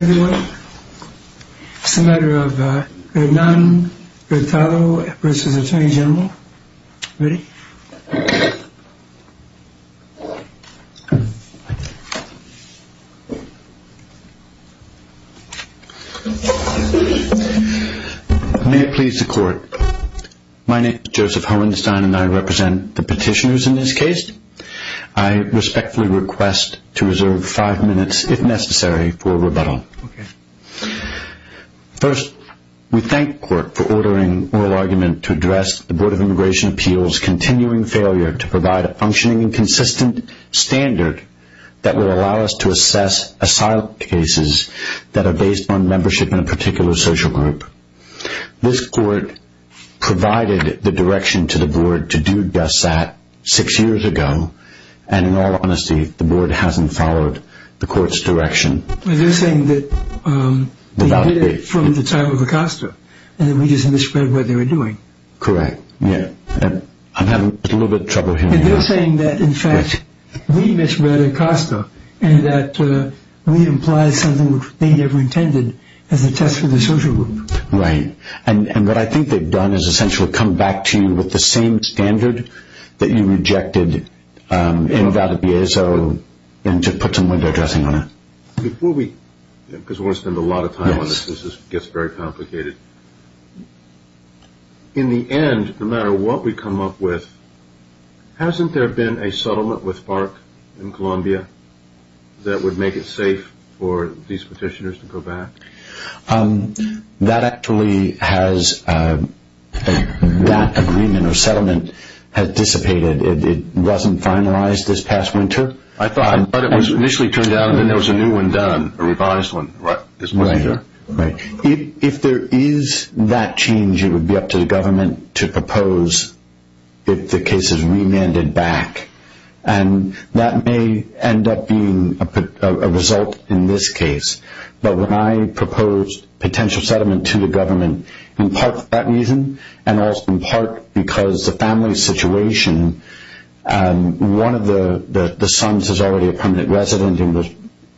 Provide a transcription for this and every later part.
May it please the court. My name is Joseph Hohenstein and I represent the petitioners in this case. I respectfully request to reserve five minutes if necessary for rebuttal. First, we thank the court for ordering oral argument to address the Board of Immigration Appeals continuing failure to provide a functioning and consistent standard that will allow us to assess asylum cases that are based on membership in a particular social group. This court provided the direction to the board to do just that six years ago and in all honesty the board hasn't followed the court's direction. They're saying that they did it from the time of Acosta and that we just misread what they were doing. Correct. I'm having a little bit of trouble hearing this. They're saying that in fact we misread Acosta and that we implied something which they never intended as a test for the social group. Right. And what I think they've done is essentially come back to you with the same standard that you rejected in Valdiviezo and to put some window dressing on it. Before we, because we're going to spend a lot of time on this, this gets very complicated. In the end, no matter what we come up with, hasn't there been a settlement with FARC in Colombia that would make it safe for these That agreement or settlement has dissipated. It wasn't finalized this past winter. I thought it was initially turned out and then there was a new one done, a revised one. Right. If there is that change, it would be up to the government to propose if the case is remanded back and that may end up being a result in this case. But when I proposed potential settlement to the government, in part for that reason and also in part because the family situation, one of the sons is already a permanent resident and will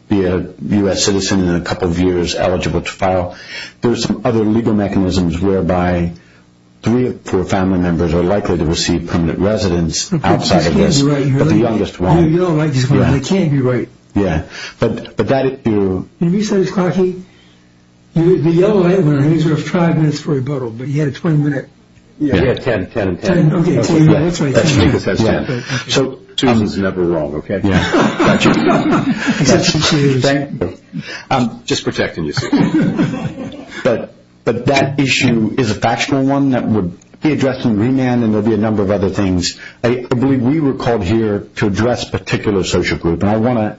be a U.S. citizen in a couple of years eligible to file. There's some other legal mechanisms whereby three or four family members are likely to receive permanent residence outside of this, but the youngest one. You said the yellow light went on and he was off for five minutes for rebuttal, but he had a 20 minute. He had 10, 10 and 10. So Susan's never wrong, okay. I'm just protecting you. But that issue is a factional one that would be addressed in remand and there will be a number of other things. I believe we were called here to address a particular social group and I want to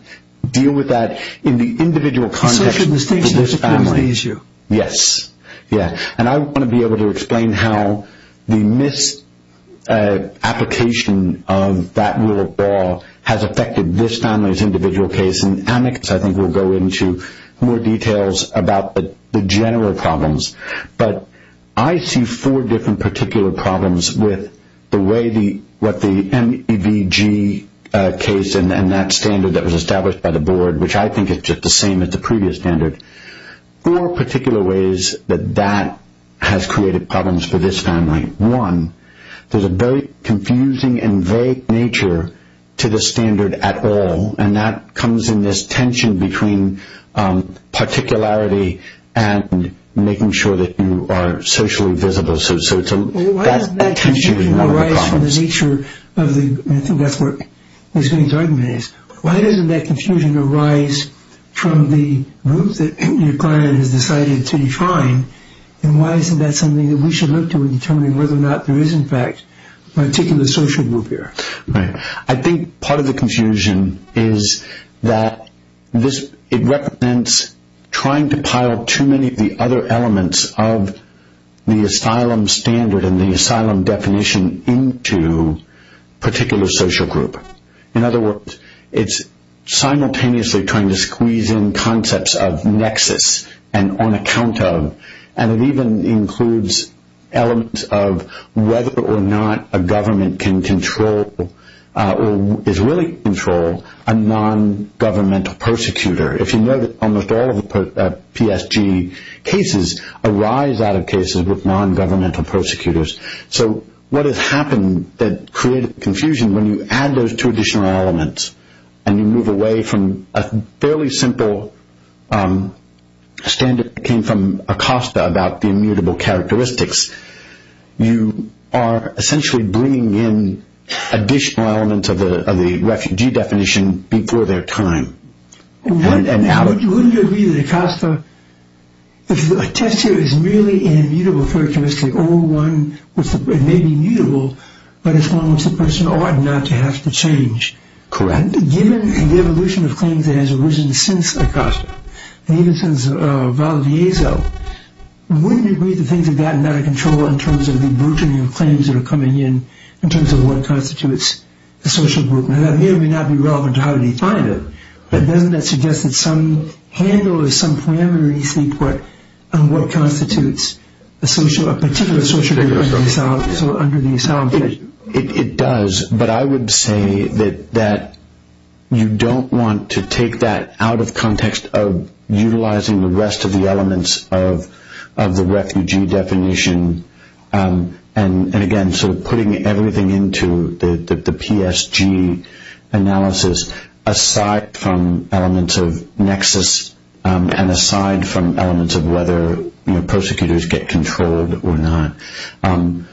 deal with that in the individual context of this family issue. Yes. Yeah. And I want to be able to explain how the misapplication of that rule of law has affected this family's individual case and I think we'll go into more details about the general problems. But I see four different particular problems with the way the, what the MEVG case and that standard that was established by the board, which I think is just the same as the previous standard. Four particular ways that that has created problems for this family. One, there's a very confusing and vague nature to the standard at all and that comes in this tension between particularity and making sure that you are socially visible. Why doesn't that confusion arise from the nature of the, I think that's what he's going to argue is, why doesn't that confusion arise from the group that your client has decided to define and why isn't that something that we should look to in determining whether or not there is in fact a particular social group here? Right. I think part of the confusion is that it represents trying to pile too many of the other elements of the asylum standard and the asylum definition into particular social group. In other words, it's simultaneously trying to squeeze in concepts of nexus and on account of and it even includes elements of whether or not a government can control or is willing to control a non-governmental persecutor. If you know that almost all of the PSG cases arise out of cases with non-governmental prosecutors. So what has happened that created confusion when you add those two additional elements and you move away from a fairly simple standard that came from Acosta about the immutable characteristics. You are essentially bringing in additional elements of the refugee definition before their time. Wouldn't you agree that Acosta, if a test here is merely an immutable characteristic, or one which may be mutable, but as long as the person ought not to have to change. Correct. Given the evolution of claims that has arisen since Acosta, and even since Valdezzo, wouldn't you agree that things have gotten out of control in terms of the burgeoning of claims that are coming in, in terms of what constitutes a social group? Now that may or may not be definitive, but doesn't that suggest that some handle or some parameter you seek what constitutes a particular social group under the asylum definition? It does, but I would say that you don't want to take that out of context of utilizing the rest of the elements of the refugee definition, and again sort of putting everything into the PSG analysis, aside from elements of nexus, and aside from elements of whether prosecutors get controlled or not. I'm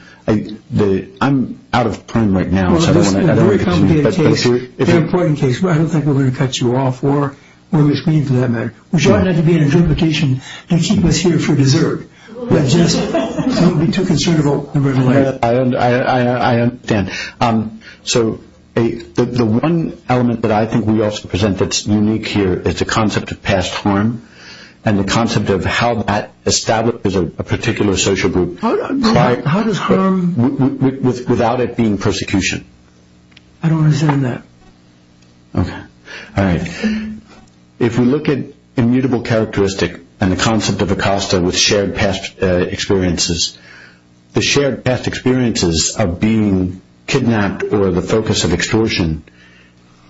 out of time right now. Well, this is a very complicated case, and an important case, but I don't think we're going to cut you off, or we're going to speak to that matter. We're trying not to be in a duplication and keep us here for dessert. I understand. So the one element that I think we also present that's unique here is the concept of past harm, and the concept of how that establishes a particular social group without it being persecution. I don't understand that. Okay. All right. If we look at immutable characteristic and the concept of ACOSTA with shared past experiences, the shared past experiences of being kidnapped or the focus of extortion,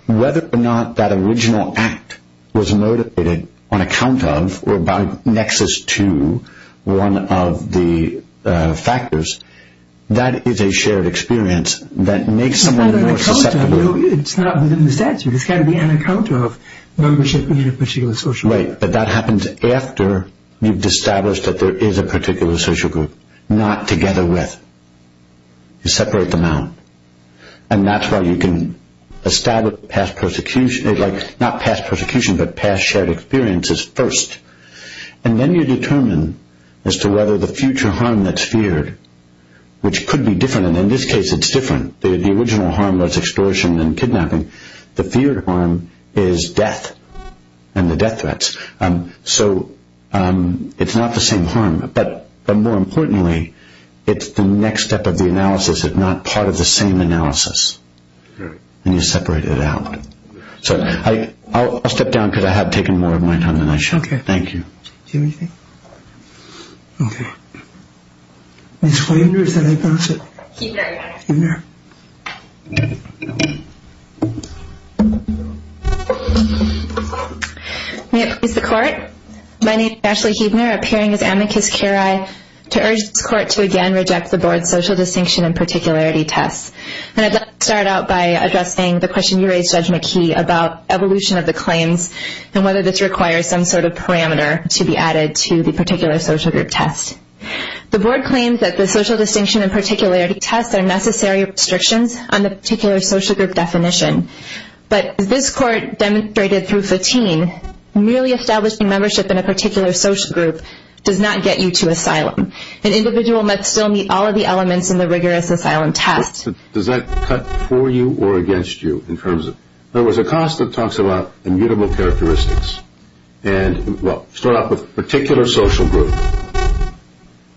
whether or not that original act was motivated on account of or by nexus to one of the factors, that is a shared experience that makes someone more susceptible. It's not within the statute. It's got to be on account of membership in a particular social group. Right, but that happens after you've established that there is a particular social group, not together with. You separate them out, and that's why you can establish past persecution. It's like not past persecution, but past shared experiences first, and then you determine as to whether the future harm that's feared, which could be different, and in this case it's different. The original harm that's extortion and kidnapping, the feared harm is death and the death threats. So it's not the same harm, but more importantly, it's the next step of the analysis, if not part of the same analysis, and you separate it out. So I'll step down because I have taken more of my time than I should. Thank you. Do you have anything? Okay. Ms. Heubner, is that how you pronounce it? Heubner, yes. Heubner. May it please the court. My name is Ashley Heubner, appearing as amicus curiae to urge this court to again reject the board's social distinction and particularity test. And I'd like to start out by addressing the question you raised, Judge McKee, about evolution of the claims and whether this requires some sort of parameter to be added to the particular social group test. The board claims that the social distinction and particularity test are necessary restrictions on the particular social group definition, but as this court demonstrated through Fatin, merely establishing membership in a particular social group does not get you to asylum. An individual must still meet all of the elements in the rigorous asylum test. Does that cut for you or against you? In other words, Acosta talks about immutable characteristics. And, well, start off with particular social group.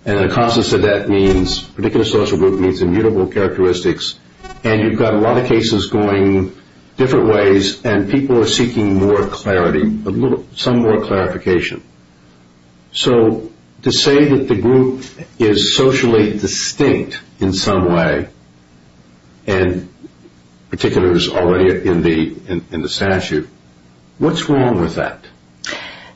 And Acosta said that means particular social group means immutable characteristics. And you've got a lot of cases going different ways, and people are seeking more clarity, some more clarification. So to say that the group is socially distinct in some way and particular is already in the statute, what's wrong with that?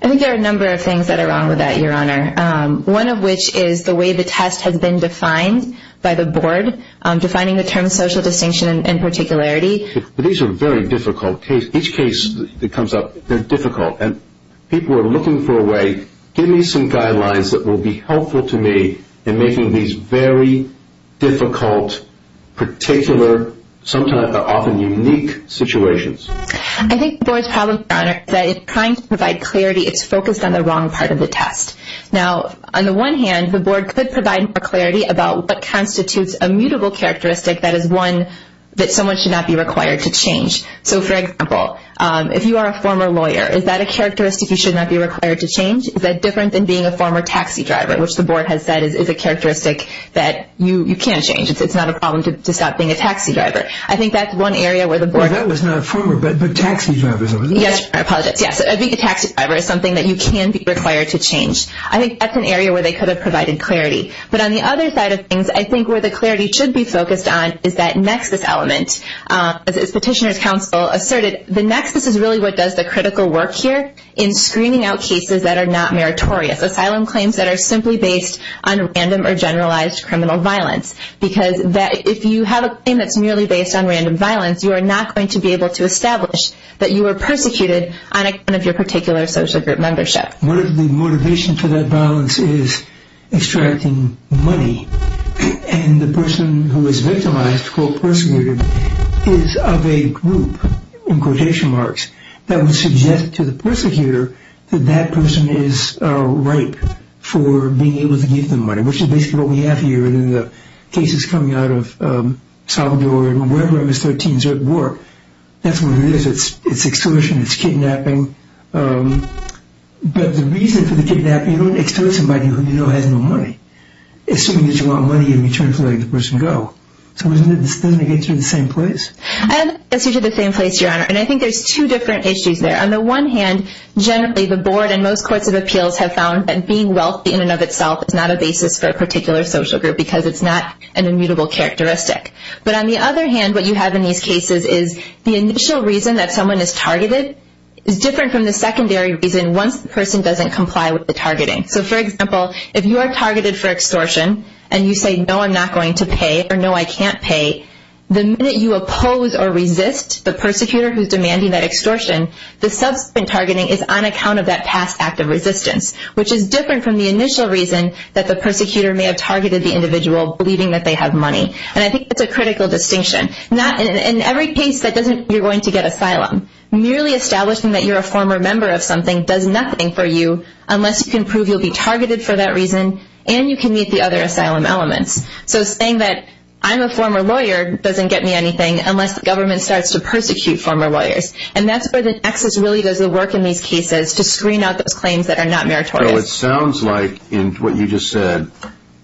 I think there are a number of things that are wrong with that, Your Honor, one of which is the way the test has been defined by the board, defining the term social distinction and particularity. These are very difficult cases. Each case that comes up, they're difficult. And people are looking for a way, give me some guidelines that will be helpful to me in making these very difficult, particular, often unique situations. I think the board's problem, Your Honor, is that it's trying to provide clarity. It's focused on the wrong part of the test. Now, on the one hand, the board could provide more clarity about what constitutes a mutable characteristic that is one that someone should not be required to change. So, for example, if you are a former lawyer, is that a characteristic you should not be required to change? Is that different than being a former taxi driver, which the board has said is a characteristic that you can change. It's not a problem to stop being a taxi driver. I think that's one area where the board... Well, that was not a former, but taxi drivers... Yes, I apologize. Yes, being a taxi driver is something that you can be required to change. I think that's an area where they could have provided clarity. But on the other side of things, I think where the clarity should be focused on is that nexus element. As Petitioner's Counsel asserted, the nexus is really what does the critical work here in screening out cases that are not meritorious, asylum claims that are simply based on random or generalized criminal violence. Because if you have a claim that's merely based on random violence, you are not going to be able to establish that you were persecuted on account of your particular social group membership. The motivation for that violence is extracting money. And the person who is victimized, called persecuted, is of a group, in quotation marks, that would suggest to the persecutor that that person is ripe for being able to give them money, which is basically what we have here in the cases coming out of Salvador and wherever MS-13s work. That's what it is. It's extortion. It's kidnapping. But the reason for the kidnapping, you don't extort somebody who you know has no money, assuming that you want money in return for letting the person go. So doesn't it get you to the same place? It gets you to the same place, Your Honor. And I think there's two different issues there. On the one hand, generally the Board and most courts of appeals have found that being wealthy in and of itself is not a basis for a particular social group because it's not an immutable characteristic. But on the other hand, what you have in these cases is the initial reason that someone is targeted is different from the secondary reason once the person doesn't comply with the targeting. So, for example, if you are targeted for extortion and you say, no, I'm not going to pay, or no, I can't pay, the minute you oppose or resist the persecutor who is demanding that extortion, the subsequent targeting is on account of that past act of resistance, which is different from the initial reason that the persecutor may have targeted the individual believing that they have money. And I think that's a critical distinction. In every case that doesn't, you're going to get asylum. Merely establishing that you're a former member of something does nothing for you unless you can prove you'll be targeted for that reason and you can meet the other asylum elements. So saying that I'm a former lawyer doesn't get me anything unless the government starts to persecute former lawyers. And that's where the Texas really does the work in these cases to screen out those claims that are not meritorious. So it sounds like in what you just said,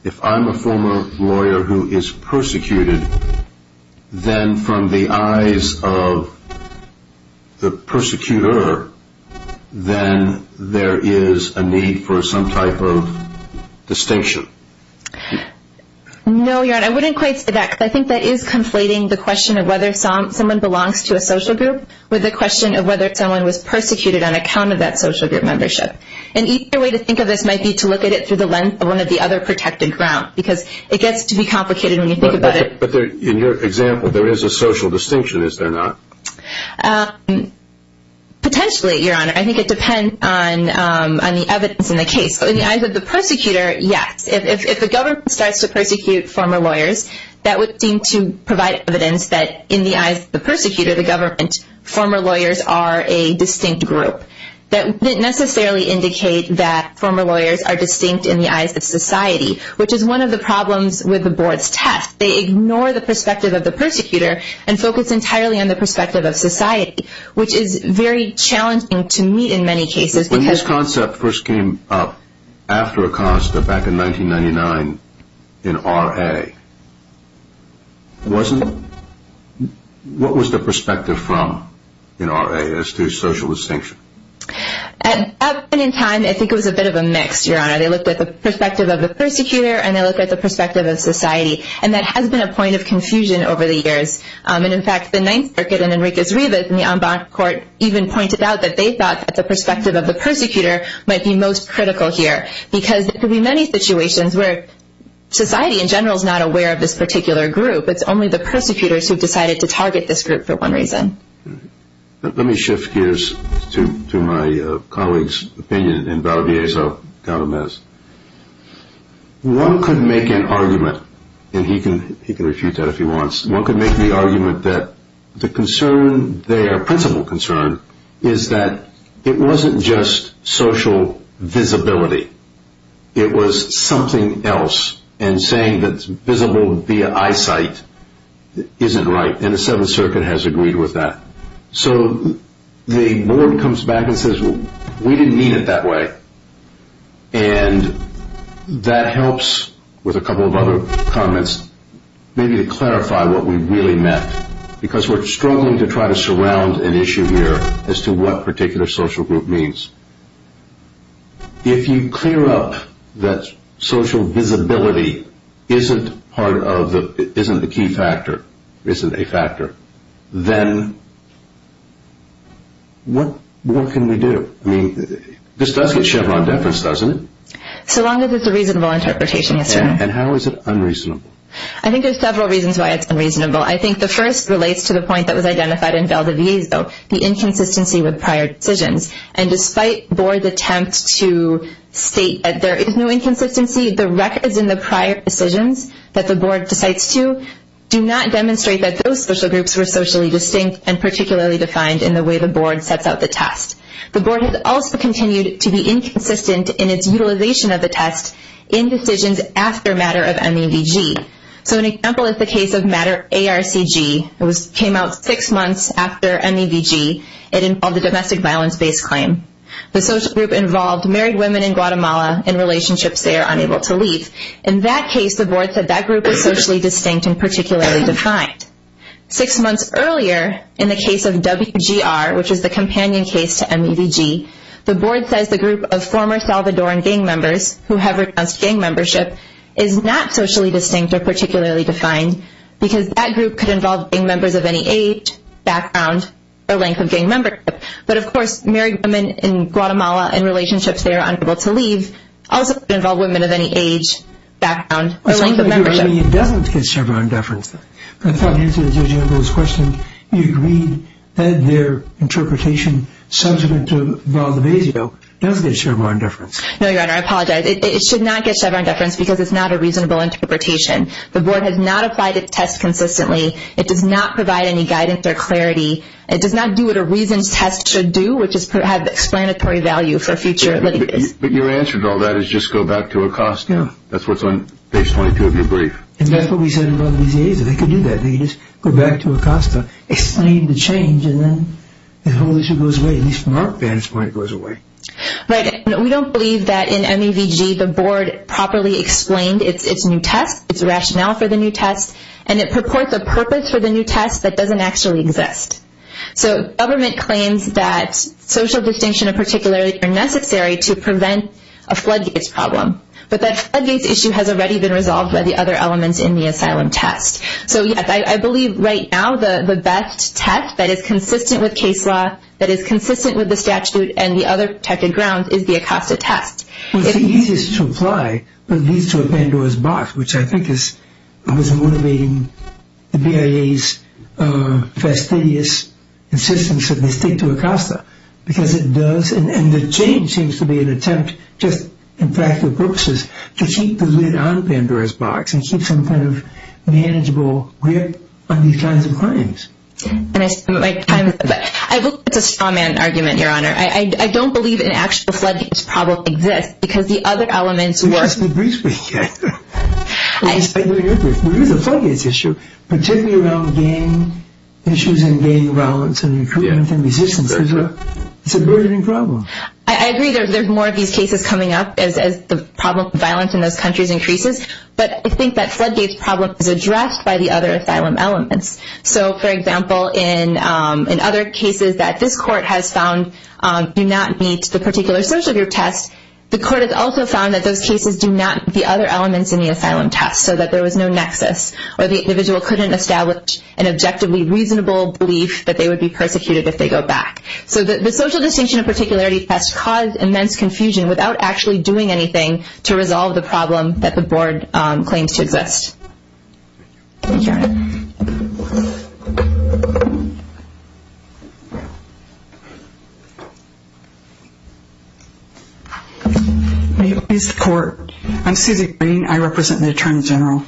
if I'm a former lawyer who is persecuted, then from the eyes of the persecutor, then there is a need for some type of distinction. No, Your Honor. I wouldn't quite say that because I think that is conflating the question of whether someone belongs to a social group with the question of whether someone was persecuted on account of that social group membership. And either way to think of this might be to look at it through the lens of one of the other protected grounds because it gets to be complicated when you think about it. But in your example, there is a social distinction, is there not? Potentially, Your Honor. I think it depends on the evidence in the case. In the eyes of the persecutor, yes. If the government starts to persecute former lawyers, that would seem to provide evidence that in the eyes of the persecutor, the government, former lawyers are a distinct group. That wouldn't necessarily indicate that former lawyers are distinct in the eyes of society, which is one of the problems with the board's task. They ignore the perspective of the persecutor and focus entirely on the perspective of society, which is very challenging to meet in many cases. When this concept first came up after Acosta back in 1999 in R.A., At that point in time, I think it was a bit of a mix, Your Honor. They looked at the perspective of the persecutor and they looked at the perspective of society. And that has been a point of confusion over the years. And, in fact, the Ninth Circuit and Enriquez-Rivas in the en banc court even pointed out that they thought that the perspective of the persecutor might be most critical here because there could be many situations where society in general is not aware of this particular group. It's only the persecutors who have decided to target this group for one reason. Let me shift gears to my colleague's opinion in Valdez-Gautamez. One could make an argument, and he can refute that if he wants, one could make the argument that the concern there, principal concern, is that it wasn't just social visibility. It was something else. And saying that it's visible via eyesight isn't right. And the Seventh Circuit has agreed with that. So the board comes back and says, well, we didn't mean it that way. And that helps, with a couple of other comments, maybe to clarify what we really meant. Because we're struggling to try to surround an issue here as to what particular social group means. If you clear up that social visibility isn't the key factor, isn't a factor, then what can we do? I mean, this does get shoved on deference, doesn't it? So long as it's a reasonable interpretation, yes, sir. And how is it unreasonable? I think there's several reasons why it's unreasonable. I think the first relates to the point that was identified in Valdez-Gautamez, the inconsistency with prior decisions. And despite board attempts to state that there is no inconsistency, the records in the prior decisions that the board decides to do not demonstrate that those social groups were socially distinct and particularly defined in the way the board sets out the test. The board has also continued to be inconsistent in its utilization of the test in decisions after matter of MEVG. So an example is the case of matter ARCG. It came out six months after MEVG. It involved a domestic violence-based claim. The social group involved married women in Guatemala in relationships they are unable to leave. In that case, the board said that group is socially distinct and particularly defined. Six months earlier, in the case of WGR, which is the companion case to MEVG, the board says the group of former Salvadoran gang members who have renounced gang membership is not socially distinct or particularly defined because that group could involve gang members of any age, background, or length of gang membership. But, of course, married women in Guatemala in relationships they are unable to leave also could involve women of any age, background, or length of membership. It doesn't get Chevron deference. I thought, answering the judge's question, you agreed that their interpretation subsequent to Valdevezio does get Chevron deference. No, Your Honor, I apologize. It should not get Chevron deference because it's not a reasonable interpretation. The board has not applied its test consistently. It does not provide any guidance or clarity. It does not do what a reason's test should do, which is have explanatory value for future litigates. But your answer to all that is just go back to Acosta. That's what's on page 22 of your brief. And that's what we said in Valdezio. They could do that. They could just go back to Acosta, explain the change, and then the whole issue goes away, at least from our vantage point it goes away. Right. We don't believe that in MEVG the board properly explained its new test, its rationale for the new test, and it purports a purpose for the new test that doesn't actually exist. So government claims that social distinction of particularity are necessary to prevent a floodgates problem. But that floodgates issue has already been resolved by the other elements in the asylum test. So, yes, I believe right now the best test that is consistent with case law, that is consistent with the statute and the other protected grounds is the Acosta test. Well, it's the easiest to apply, but it leads to a Pandora's box, which I think is what's motivating the BIA's fastidious insistence that they stick to Acosta. Because it does, and the change seems to be an attempt just in practical purposes to keep the lid on Pandora's box and keep some kind of manageable grip on these kinds of claims. And I spent my time with that. I think it's a straw man argument, Your Honor. I don't believe an actual floodgates problem exists, because the other elements work. It's just a brief weekend. We'll use the floodgates issue, particularly around gang issues and gang violence and recruitment for musicians. It's a burgeoning problem. I agree. There's more of these cases coming up as the problem of violence in those countries increases. But I think that floodgates problem is addressed by the other asylum elements. So, for example, in other cases that this court has found do not meet the particular social group test, the court has also found that those cases do not meet the other elements in the asylum test, so that there was no nexus or the individual couldn't establish an objectively reasonable belief that they would be persecuted if they go back. So the social distinction and particularity test caused immense confusion without actually doing anything to resolve the problem that the board claims to exist. Thank you, Your Honor. Thank you. May it please the Court. I'm Susie Green. I represent the Attorney General.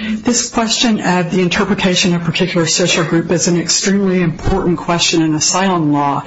This question of the interpretation of particular social group is an extremely important question in asylum law,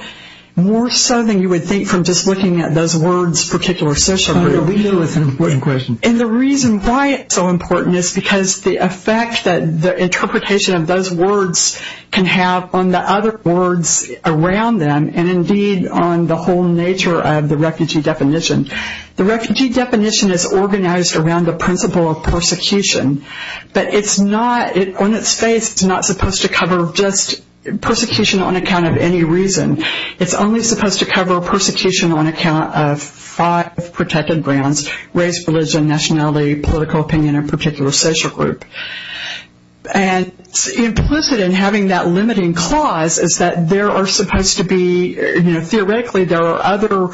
more so than you would think from just looking at those words particular social group. We know it's an important question. And the reason why it's so important is because the effect that the interpretation of those words can have on the other words around them and, indeed, on the whole nature of the refugee definition. The refugee definition is organized around the principle of persecution. But it's not, on its face, it's not supposed to cover just persecution on account of any reason. It's only supposed to cover persecution on account of five protected grounds, race, religion, nationality, political opinion, and particular social group. And implicit in having that limiting clause is that there are supposed to be, you know, theoretically, there are other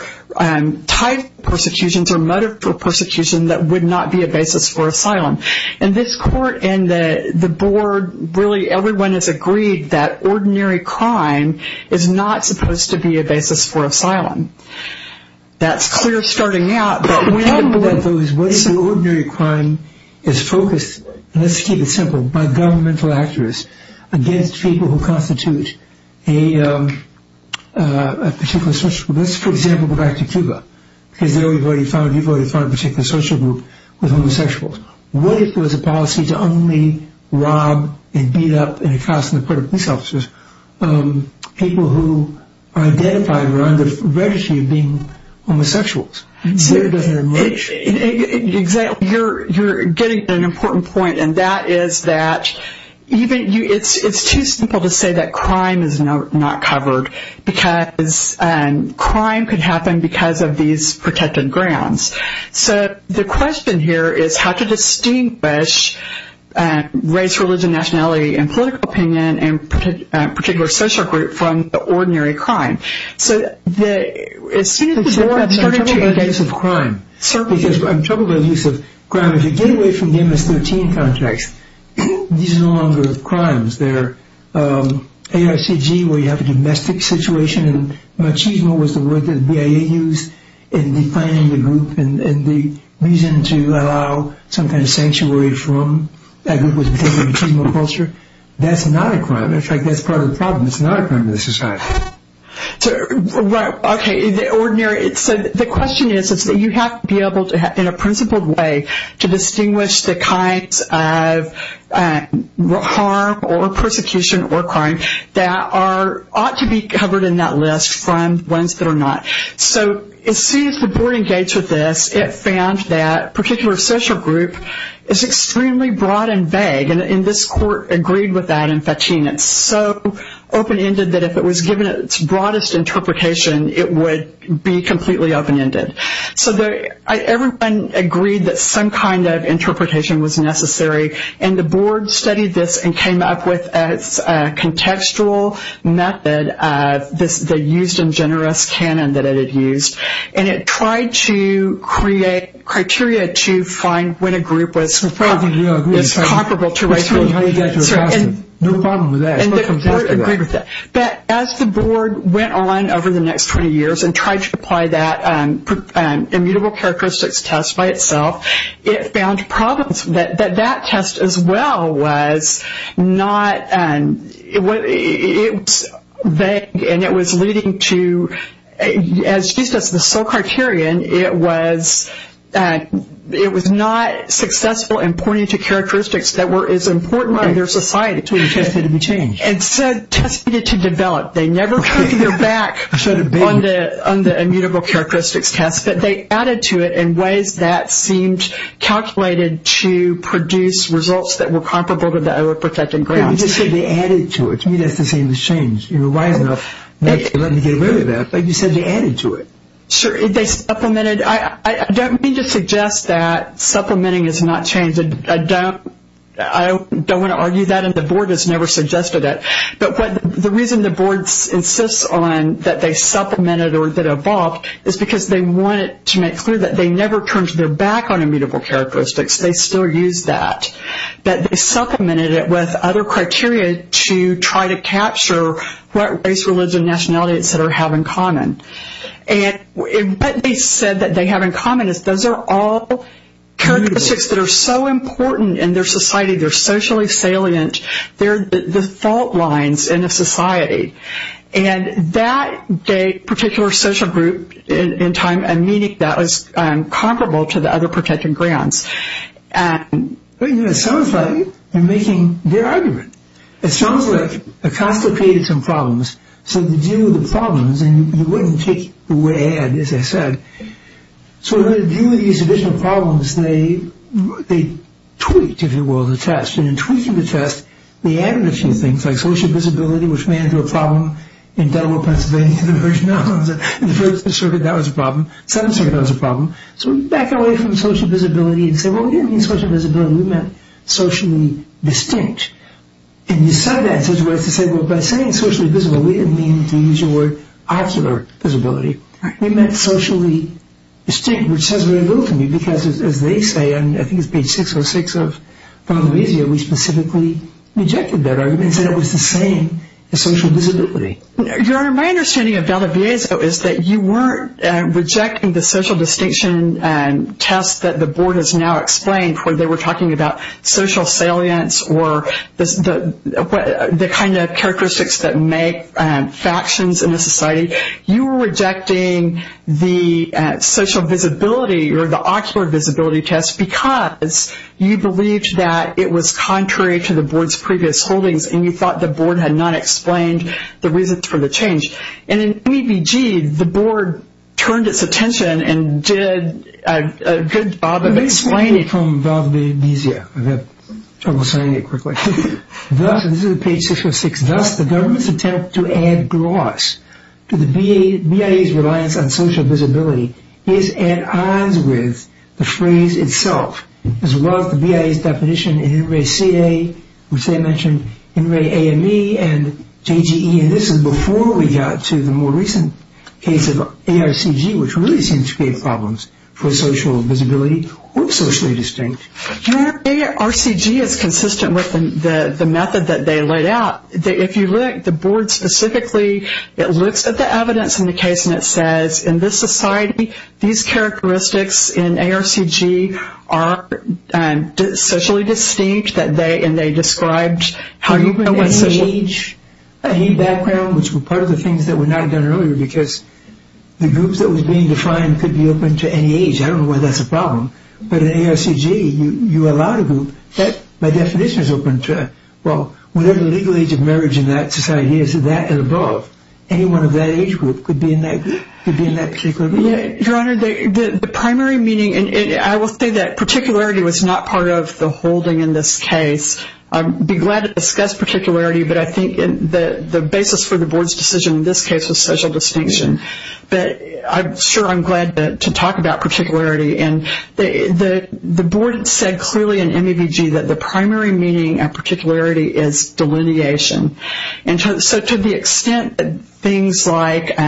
type of persecutions or mode of persecution that would not be a basis for asylum. In this court and the board, really, everyone has agreed that ordinary crime is not supposed to be a basis for asylum. That's clear starting out, but when the board... What if the ordinary crime is focused, let's keep it simple, by governmental actors against people who constitute a particular social group. Let's, for example, go back to Cuba. Because there we've already found, you've already found a particular social group with homosexuals. What if it was a policy to only rob and beat up and accost in the court of police officers people who are identified or on the registry of being homosexuals? So it doesn't emerge... Exactly, you're getting an important point, and that is that even you... It's too simple to say that crime is not covered because crime could happen because of these protected grounds. So the question here is how to distinguish race, religion, nationality, and political opinion and a particular social group from the ordinary crime. So as soon as the board started to engage... I'm troubled by the use of crime. Certainly. I'm troubled by the use of crime. If you get away from the MS-13 context, these are no longer crimes. They're ARCG where you have a domestic situation, and machismo was the word that the BIA used in defining the group and the reason to allow some kind of sanctuary from that group was because of machismo culture. That's not a crime. In fact, that's part of the problem. It's not a crime in this society. Right, okay. The ordinary... So the question is that you have to be able to, in a principled way, to distinguish the kinds of harm or persecution or crime that ought to be covered in that list from ones that are not. So as soon as the board engaged with this, it found that a particular social group is extremely broad and vague, and this court agreed with that in Fatin. It's so open-ended that if it was given its broadest interpretation, it would be completely open-ended. So everyone agreed that some kind of interpretation was necessary, and the board studied this and came up with a contextual method, the used and generous canon that it had used, and it tried to create criteria to find when a group was comparable to race. No problem with that. The board agreed with that. Immutable characteristics test by itself, it found problems. That test as well was not... It was vague, and it was leading to, as used as the sole criterion, it was not successful in pointing to characteristics that were as important in their society. So the test needed to be changed. Instead, tests needed to develop. They never took their back on the immutable characteristics test, but they added to it in ways that seemed calculated to produce results that were comparable to the other protected grounds. You just said they added to it. To me, that's the same as change. You were wise enough not to let me get rid of that, but you said they added to it. Sure. They supplemented. I don't mean to suggest that supplementing is not change. I don't want to argue that, and the board has never suggested it. But the reason the board insists on that they supplemented or that evolved is because they wanted to make clear that they never turned their back on immutable characteristics. They still used that. But they supplemented it with other criteria to try to capture what race, religion, nationality, et cetera, have in common. And what they said that they have in common is those are all characteristics that are so important in their society. They're socially salient. They're the fault lines in a society. And that particular social group in time and meaning, that was comparable to the other protected grounds. It sounds like you're making their argument. It sounds like Acosta created some problems. So to deal with the problems, and you wouldn't take it the way I had, as I said, so to deal with these additional problems, they tweaked, if you will, the test. And in tweaking the test, they added a few things, like social visibility, which may have been a problem in Delaware, Pennsylvania. In the first circuit, that was a problem. In the second circuit, that was a problem. So back away from social visibility and say, well, we didn't mean social visibility. We meant socially distinct. And you said that in such a way as to say, well, by saying socially visible, we didn't mean, to use your word, ocular visibility. We meant socially distinct, which says very little to me because, as they say, and I think it's page 606 of Valdiviezo, we specifically rejected that argument and said it was the same as social visibility. Your Honor, my understanding of Valdiviezo is that you weren't rejecting the social distinction test that the board has now explained where they were talking about social salience or the kind of characteristics that make factions in a society. You were rejecting the social visibility or the ocular visibility test because you believed that it was contrary to the board's previous holdings and you thought the board had not explained the reasons for the change. And in EBG, the board turned its attention and did a good job of explaining it. Let me explain it from Valdiviezo. I have trouble saying it quickly. This is page 606. Thus, the government's attempt to add gloss to the BIA's reliance on social visibility is at odds with the phrase itself, as well as the BIA's definition in INRAE-CA, which they mentioned, INRAE-AME, and JGE, and this is before we got to the more recent case of ARCG, which really seems to create problems for social visibility or socially distinct. ARCG is consistent with the method that they laid out. If you look at the board specifically, it looks at the evidence in the case and it says in this society, these characteristics in ARCG are socially distinct and they described how you can know what social... Age, age background, which were part of the things that were not done earlier because the groups that were being defined could be open to any age. I don't know why that's a problem, but in ARCG, you allow the group. My definition is open to that. Well, whatever the legal age of marriage in that society is, that and above, anyone of that age group could be in that particular group. Your Honor, the primary meaning, and I will say that particularity was not part of the holding in this case. I'd be glad to discuss particularity, but I think the basis for the board's decision in this case was social distinction. I'm sure I'm glad to talk about particularity. The board said clearly in MEVG that the primary meaning of particularity is delineation. To the extent that things like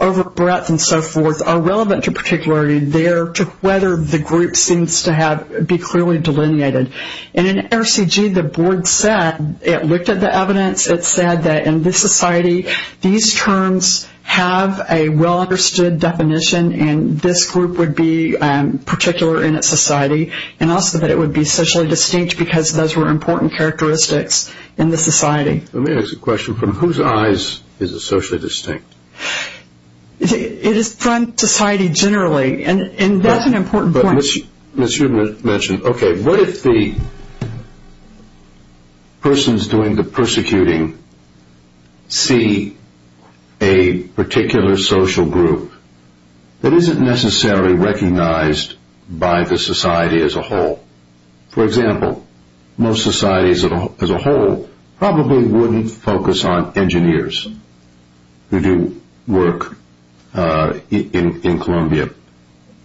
over breadth and so forth are relevant to particularity, there to whether the group seems to be clearly delineated. In ARCG, the board said, it looked at the evidence, it said that in this society, these terms have a well-understood definition, and this group would be particular in its society, and also that it would be socially distinct because those were important characteristics in the society. Let me ask a question. From whose eyes is it socially distinct? It is from society generally, and that's an important point. As you mentioned, okay, what if the persons doing the persecuting see a particular social group that isn't necessarily recognized by the society as a whole? For example, most societies as a whole probably wouldn't focus on engineers who do work in Columbia,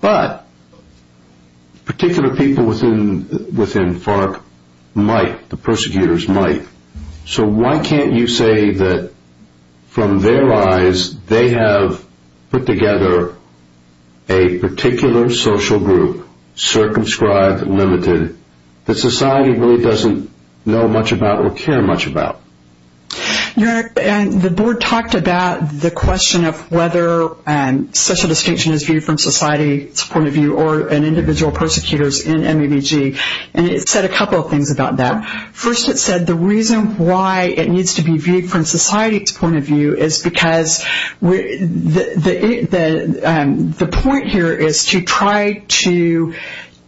but particular people within FARC might. The persecutors might. So why can't you say that from their eyes, they have put together a particular social group, circumscribed, limited, that society really doesn't know much about or care much about? The board talked about the question of whether social distinction is viewed from society's point of view or an individual persecutors in MEBG, and it said a couple of things about that. First, it said the reason why it needs to be viewed from society's point of view is because the point here is to try to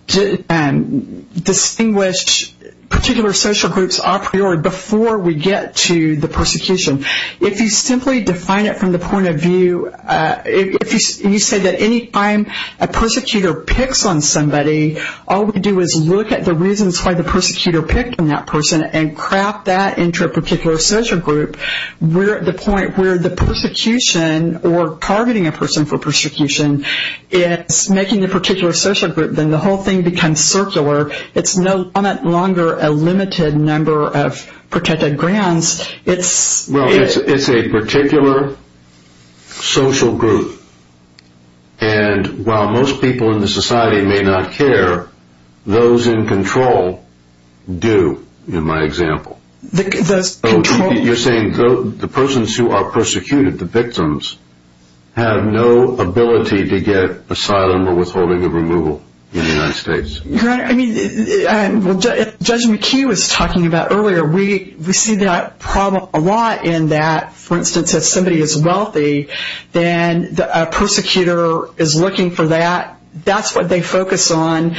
distinguish particular social groups a priori before we get to the persecution. If you simply define it from the point of view, if you say that any time a persecutor picks on somebody, all we do is look at the reasons why the persecutor picked on that person and craft that into a particular social group, we're at the point where the persecution or targeting a person for persecution, it's making the particular social group, then the whole thing becomes circular. It's no longer a limited number of protected grounds. Well, it's a particular social group, and while most people in the society may not care, those in control do, in my example. You're saying the persons who are persecuted, the victims, have no ability to get asylum or withholding of removal in the United States. Your Honor, Judge McHugh was talking about earlier, we see that problem a lot in that, for instance, if somebody is wealthy, then a persecutor is looking for that. That's what they focus on,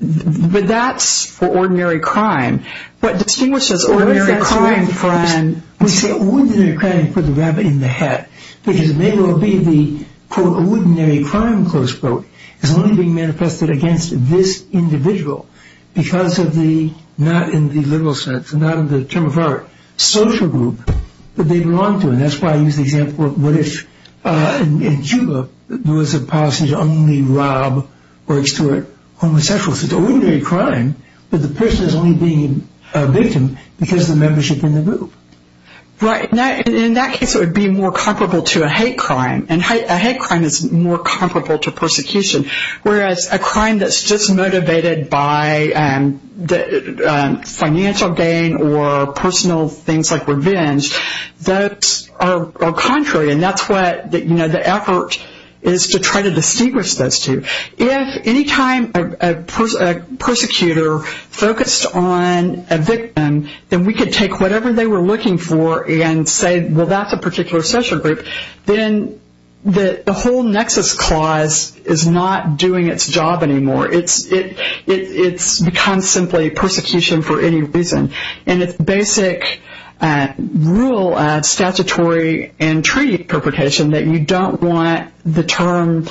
but that's for ordinary crime. What distinguishes ordinary crime from... We say ordinary crime, put the rabbit in the hat, because it may well be the, quote, ordinary crime, close quote, is only being manifested against this individual because of the, not in the literal sense, not in the term of art, social group that they belong to. And that's why I use the example of what if, in Cuba, there was a policy to only rob or extort homosexuals. It's an ordinary crime, but the person is only being a victim because of the membership in the group. Right. In that case, it would be more comparable to a hate crime, and a hate crime is more comparable to persecution, whereas a crime that's just motivated by financial gain or personal things like revenge, those are contrary, and that's what the effort is to try to distinguish those two. If any time a persecutor focused on a victim, then we could take whatever they were looking for and say, well, that's a particular social group. Then the whole nexus clause is not doing its job anymore. It's become simply persecution for any reason, and it's basic rule of statutory and treaty interpretation that you don't want a term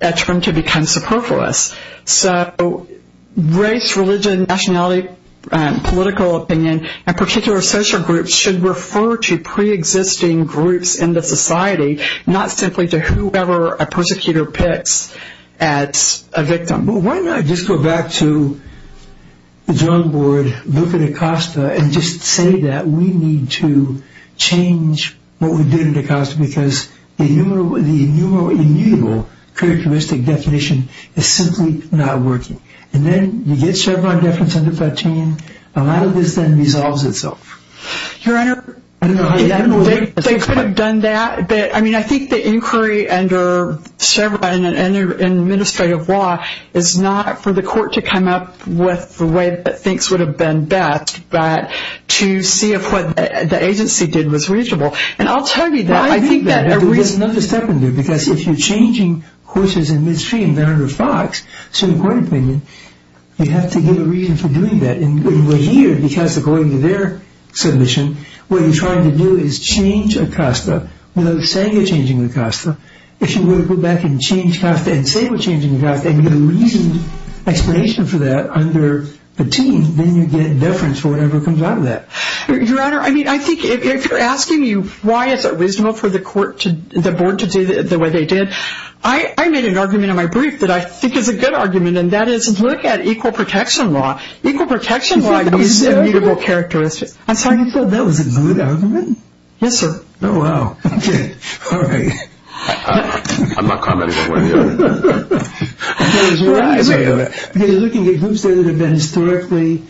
to become superfluous. So race, religion, nationality, political opinion, and particular social groups should refer to preexisting groups in the society, not simply to whoever a persecutor picks as a victim. Well, why not just go back to the drug board, look at Acosta, and just say that we need to change what we did at Acosta because the innumerable characteristic definition is simply not working. And then you get Chevron deference under 13. A lot of this then resolves itself. Your Honor, they could have done that. I mean, I think the inquiry under Chevron and their administrative law is not for the court to come up with the way that things would have been best, but to see if what the agency did was reasonable. And I'll tell you that. There's another step in there, because if you're changing horses in Midstream under FOX, Supreme Court opinion, you have to give a reason for doing that. And we're here because, according to their submission, what you're trying to do is change Acosta without saying you're changing Acosta. If you were to go back and change Acosta and say we're changing Acosta and give a reasoned explanation for that under the team, then you get deference for whatever comes out of that. Your Honor, I mean, I think if you're asking me why is it reasonable for the board to do the way they did, I made an argument in my brief that I think is a good argument, and that is look at equal protection law. Equal protection law needs immutable characteristics. That's how you feel? That was a good argument? Yes, sir. Okay. All right. I'm not commenting on what I hear. Because you're looking at groups there that have been historically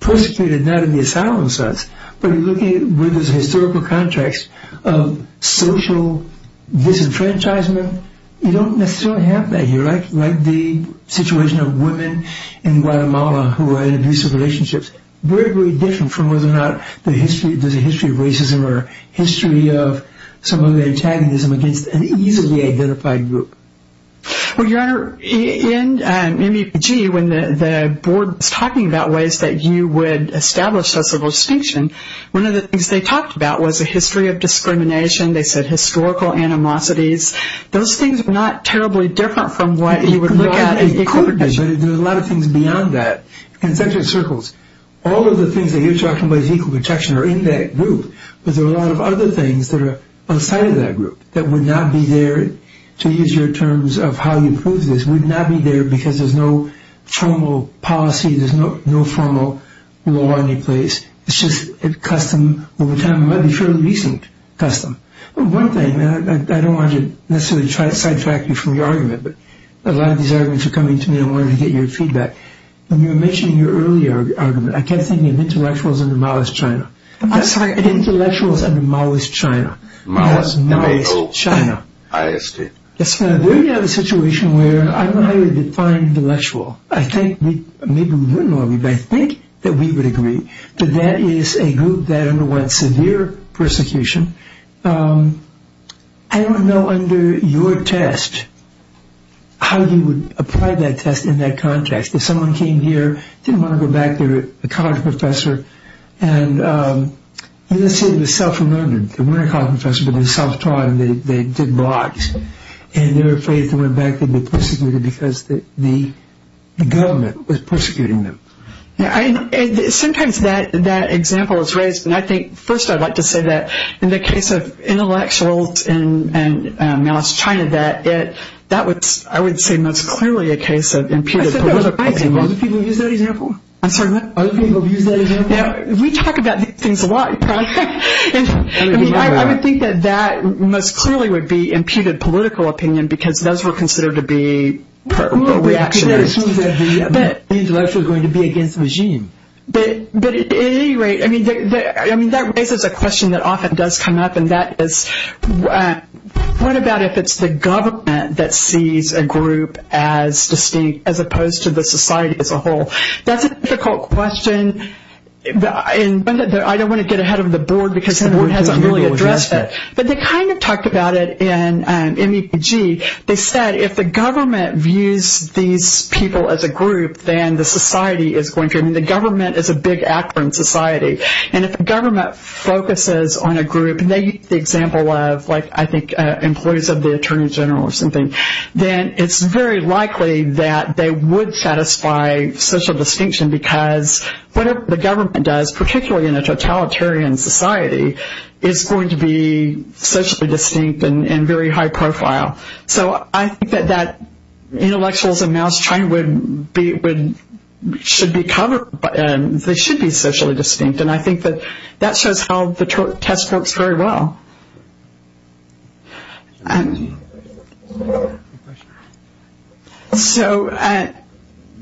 persecuted, not in the asylum sense, but you're looking at where there's a historical context of social disenfranchisement. You don't necessarily have that here. Like the situation of women in Guatemala who are in abusive relationships. Very, very different from whether or not there's a history of racism or history of some other antagonism against an easily identified group. Well, Your Honor, in MEPG, when the board was talking about ways that you would establish social distinction, one of the things they talked about was a history of discrimination. They said historical animosities. Those things are not terribly different from what you would look at in equal protection. There's a lot of things beyond that. In Central Circles, all of the things that you're talking about as equal protection are in that group, but there are a lot of other things that are outside of that group that would not be there, to use your terms of how you prove this, would not be there because there's no formal policy, there's no formal law in any place. It's just a custom over time. It might be a fairly recent custom. One thing, and I don't want to necessarily sidetrack you from your argument, but a lot of these arguments are coming to me and I wanted to get your feedback. When you were mentioning your earlier argument, I kept thinking of intellectuals under Maoist China. I'm sorry, I didn't think intellectuals under Maoist China. Maoist China. There you have a situation where I don't know how you would define intellectual. I think, maybe we wouldn't know, but I think that we would agree that that is a group that underwent severe persecution. I don't know under your test how you would apply that test in that context. If someone came here, didn't want to go back, they were a college professor, and let's say they were self-remoted. They weren't a college professor, but they were self-taught and they did blogs. And they were afraid if they went back they'd be persecuted because the government was persecuting them. Sometimes that example is raised, and I think first I'd like to say that in the case of intellectuals and Maoist China, Other people have used that example? We talk about these things a lot. I would think that that most clearly would be imputed political opinion because those were considered to be reactionaries. But intellectuals are going to be against the regime. But at any rate, that raises a question that often does come up, and that is what about if it's the government that sees a group as distinct as opposed to the society as a whole? That's a difficult question, and I don't want to get ahead of the board because the board hasn't really addressed it. But they kind of talked about it in MEPG. They said if the government views these people as a group, then the society is going to, I mean the government is a big actor in society. And if the government focuses on a group, and they use the example of I think employees of the Attorney General or something, then it's very likely that they would satisfy social distinction because whatever the government does, particularly in a totalitarian society, is going to be socially distinct and very high profile. So I think that intellectuals and Maoist China should be socially distinct, and I think that shows how the test works very well. So I'm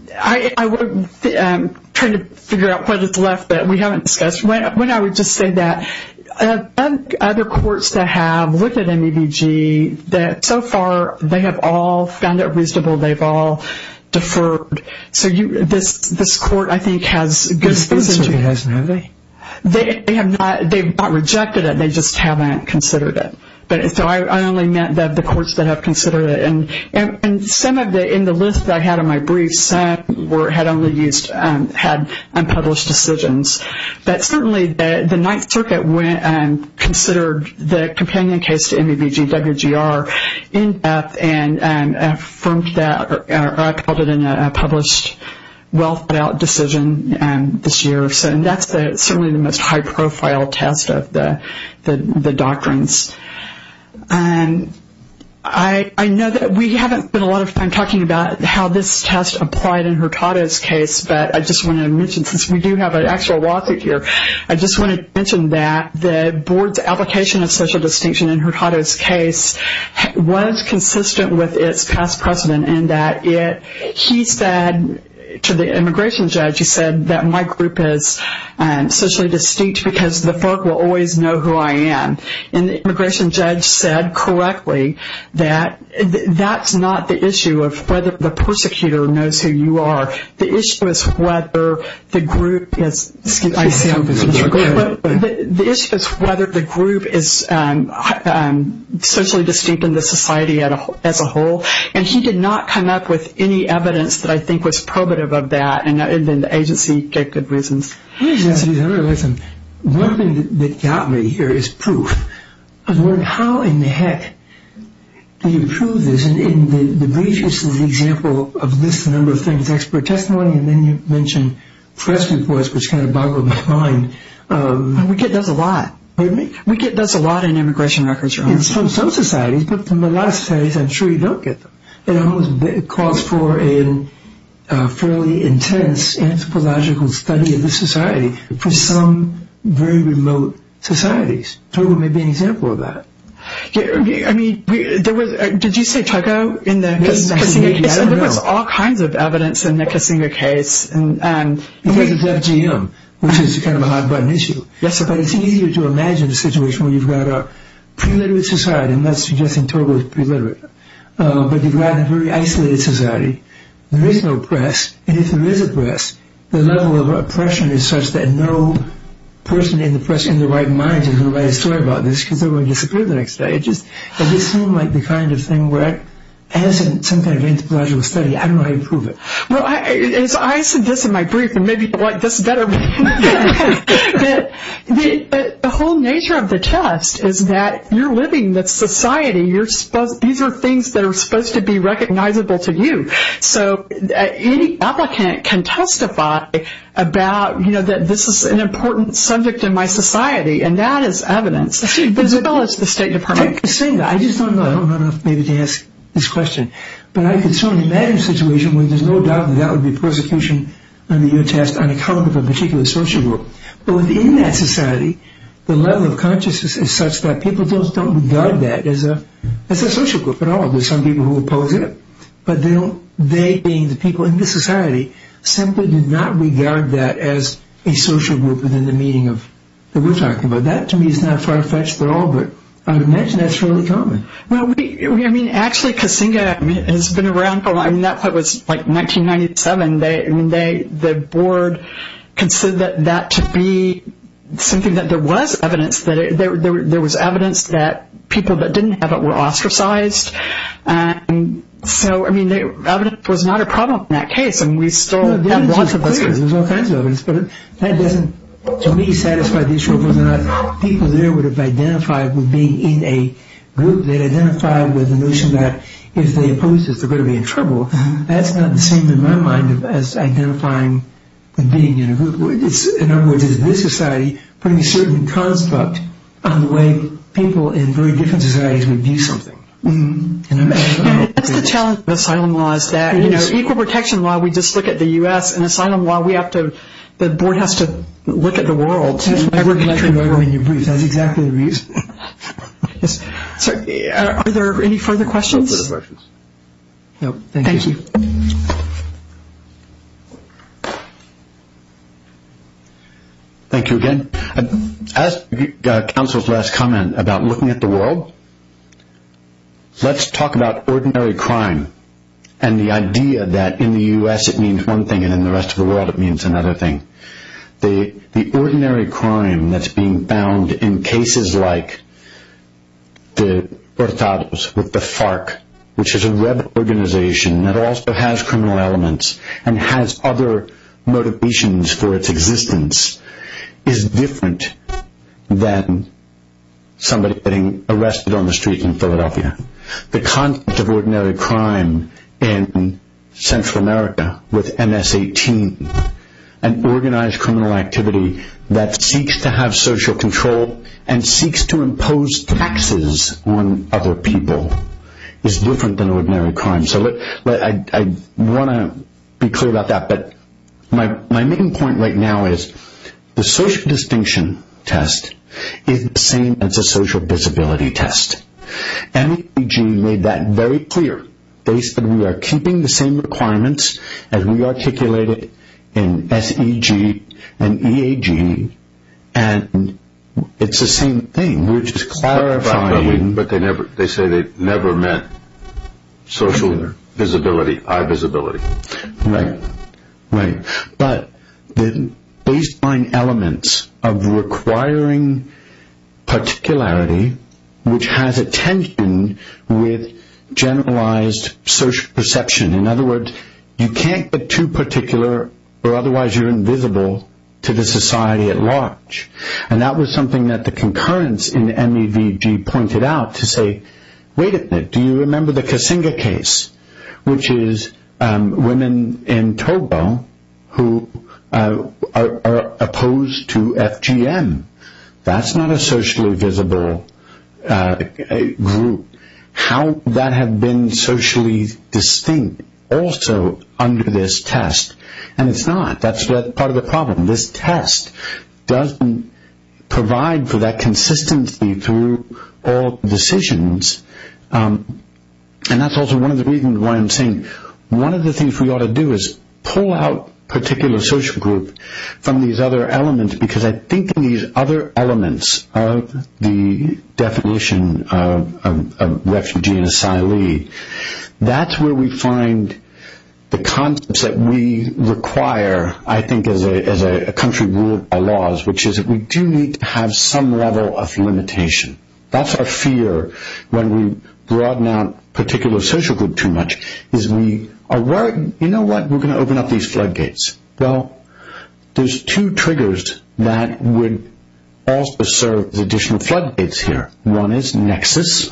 trying to figure out what is left that we haven't discussed. I would just say that other courts that have looked at MEPG, that so far they have all found it reasonable. They've all deferred. This court, I think, has good reason to. They have not rejected it. They just haven't considered it. So I only meant the courts that have considered it. And in the list that I had in my brief, some had unpublished decisions. But certainly the Ninth Circuit considered the companion case to MEPG, WGR, in depth and affirmed that or called it in a published well-thought-out decision this year. So that's certainly the most high-profile test of the doctrines. I know that we haven't spent a lot of time talking about how this test applied in Hurtado's case, but I just want to mention, since we do have an actual lawsuit here, I just want to mention that the board's application of social distinction in Hurtado's case was consistent with its past precedent in that he said to the immigration judge, he said that my group is socially distinct because the folk will always know who I am. And the immigration judge said correctly that that's not the issue of whether the persecutor knows who you are. The issue is whether the group is socially distinct in the society as a whole. And he did not come up with any evidence that I think was probative of that. And the agency gave good reasons. One thing that got me here is proof of how in the heck do you prove this? In the brief, this is an example of this number of things, expert testimony, and then you mentioned press reports, which kind of boggled my mind. We get those a lot. We get those a lot in immigration records. In some societies, but in a lot of societies, I'm sure you don't get them. It almost calls for a fairly intense anthropological study of the society for some very remote societies. Togo may be an example of that. I mean, did you say Togo in the Kissinger case? There was all kinds of evidence in the Kissinger case. Because it's FGM, which is kind of a hot-button issue. Yes, but it's easier to imagine a situation where you've got a pre-literate society, and that's suggesting Togo is pre-literate, but you've got a very isolated society. There is no press, and if there is a press, the level of oppression is such that no person in the press in their right mind is going to write a story about this because they're going to disappear the next day. It just seemed like the kind of thing where, as in some kind of anthropological study, I don't know how you prove it. Well, as I said this in my brief, and maybe people like this better, that the whole nature of the test is that you're living with society. These are things that are supposed to be recognizable to you. So any applicant can testify about, you know, that this is an important subject in my society, and that is evidence, as well as the State Department. Take Kissinger. I just don't know. I don't know enough maybe to ask this question. But I can certainly imagine a situation where there's no doubt that that would be persecution under your test on account of a particular social group. But within that society, the level of consciousness is such that people just don't regard that as a social group at all. There are some people who oppose it, but they, being the people in the society, simply do not regard that as a social group within the meaning that we're talking about. That, to me, is not far-fetched at all, but I would imagine that's fairly common. Actually, Kissinger has been around for a long time. That was like 1997. The board considered that to be something that there was evidence that people that didn't have it were ostracized. So, I mean, evidence was not a problem in that case, and we still have lots of evidence. There's all kinds of evidence, but that doesn't, to me, satisfy the issue of whether or not people there would have identified with being in a group that identified with the notion that if they opposed it, they're going to be in trouble. That's not the same, in my mind, as identifying with being in a group. In other words, does this society bring a certain construct on the way people in very different societies would view something? That's the challenge of asylum law, is that equal protection law, we just look at the U.S., and asylum law, the board has to look at the world. That's exactly the reason. Are there any further questions? No, thank you. Thank you. Thank you again. As counsel's last comment about looking at the world, let's talk about ordinary crime and the idea that in the U.S. it means one thing and in the rest of the world it means another thing. The ordinary crime that's being found in cases like the Hurtados with the FARC, which is a web organization that also has criminal elements and has other motivations for its existence, is different than somebody getting arrested on the street in Philadelphia. The concept of ordinary crime in Central America with MS-18, an organized criminal activity that seeks to have social control and seeks to impose taxes on other people is different than ordinary crime. So I want to be clear about that. But my main point right now is the social distinction test is the same as a social disability test. MEG made that very clear. They said we are keeping the same requirements as we articulated in SEG and EAG and it's the same thing. We're just clarifying. But they say they never meant social visibility, eye visibility. Right. But the baseline elements of requiring particularity, which has a tension with generalized social perception. In other words, you can't get too particular or otherwise you're invisible to the society at large. And that was something that the concurrence in MEVG pointed out to say, wait a minute, do you remember the Kasinga case, which is women in Togo who are opposed to FGM? That's not a socially visible group. How that had been socially distinct also under this test. And it's not. That's part of the problem. This test doesn't provide for that consistency through all decisions. And that's also one of the reasons why I'm saying one of the things we ought to do is pull out particular social group from these other elements because I think in these other elements of the definition of refugee and asylee, that's where we find the concepts that we require, I think, as a country ruled by laws, which is that we do need to have some level of limitation. That's our fear when we broaden out particular social group too much is we are worried, you know what, we're going to open up these floodgates. Well, there's two triggers that would also serve as additional floodgates here. One is nexus,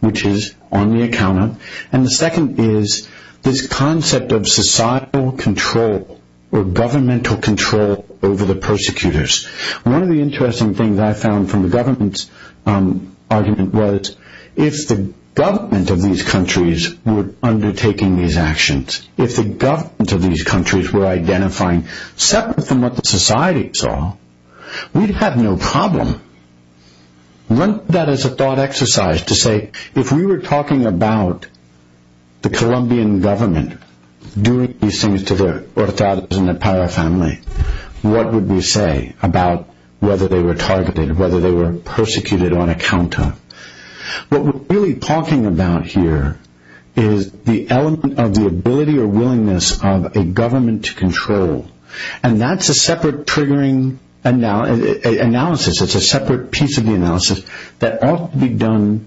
which is on the account. And the second is this concept of societal control or governmental control over the persecutors. One of the interesting things I found from the government's argument was if the government of these countries were undertaking these actions, if the government of these countries were identifying separate from what the society saw, we'd have no problem. Run that as a thought exercise to say if we were talking about the Colombian government doing these things to the Hortadas and the Parra family, what would we say about whether they were targeted, whether they were persecuted on account of. What we're really talking about here is the element of the ability or willingness of a government to control. And that's a separate triggering analysis. It's a separate piece of the analysis that ought to be done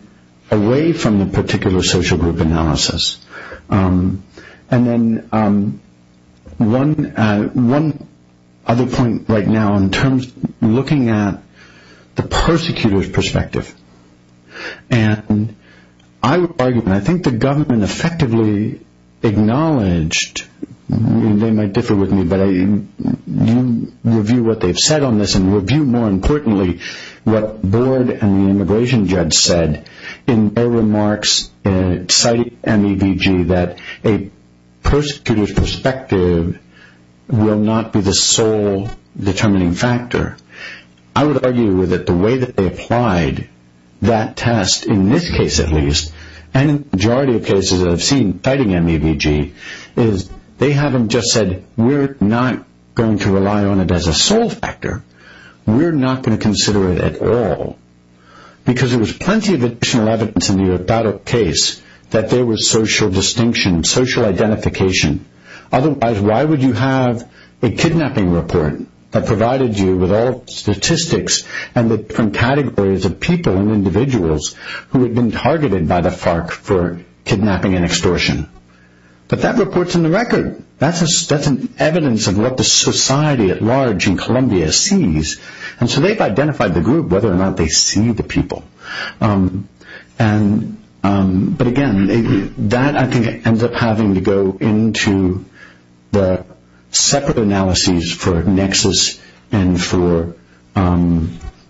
away from the particular social group analysis. And then one other point right now in terms of looking at the persecutors' perspective. And I would argue, and I think the government effectively acknowledged, and they might differ with me, but you review what they've said on this, and review more importantly what Board and the immigration judge said in their remarks citing MEBG that a persecutor's perspective will not be the sole determining factor. I would argue that the way that they applied that test, in this case at least, and in the majority of cases that I've seen citing MEBG, is they haven't just said we're not going to rely on it as a sole factor. We're not going to consider it at all. Because there was plenty of additional evidence in the Hortada case that there was social distinction, social identification. Otherwise, why would you have a kidnapping report that provided you with all statistics and the different categories of people and individuals who had been targeted by the FARC for kidnapping and extortion? But that report's in the record. That's evidence of what the society at large in Columbia sees. And so they've identified the group, whether or not they see the people. But, again, that I think ends up having to go into the separate analyses for nexus and for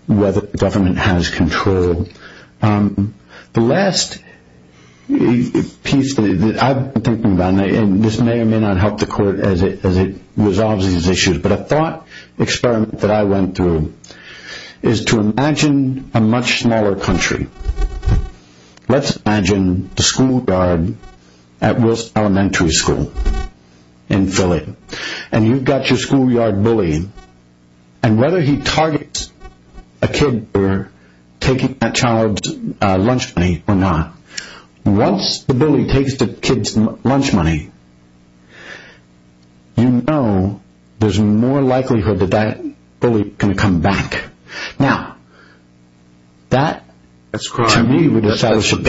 whether the government has control. The last piece that I've been thinking about, and this may or may not help the Court as it resolves these issues, but a thought experiment that I went through is to imagine a much smaller country. Let's imagine the schoolyard at Wilson Elementary School in Philly. And you've got your schoolyard bully. And whether he targets a kid for taking that child's lunch money or not, once the bully takes the kid's lunch money, you know there's more likelihood that that bully is going to come back. Now, that to me would establish a PSP.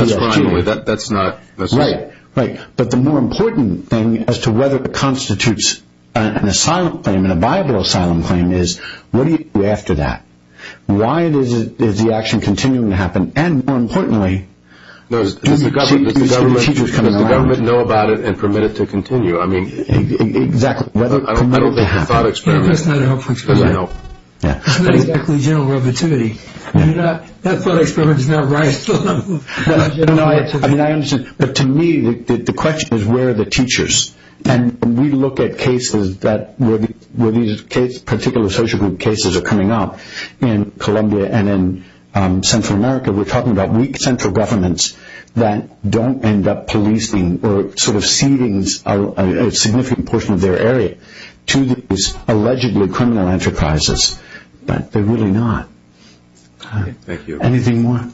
That's crime. That's not necessary. Right. Right. But the more important thing as to whether it constitutes an asylum claim, and a viable asylum claim, is what do you do after that? Why is the action continuing to happen? And, more importantly, do you see the teachers coming around? Let the government know about it and permit it to continue. Exactly. I don't think the thought experiment is going to help. It's not exactly general relativity. That thought experiment is not right. I understand. But, to me, the question is where are the teachers? And when we look at cases where these particular social group cases are coming up, in Columbia and in Central America, we're talking about weak central governments that don't end up policing or sort of ceding a significant portion of their area to these allegedly criminal enterprises. But they're really not. Thank you. Anything more?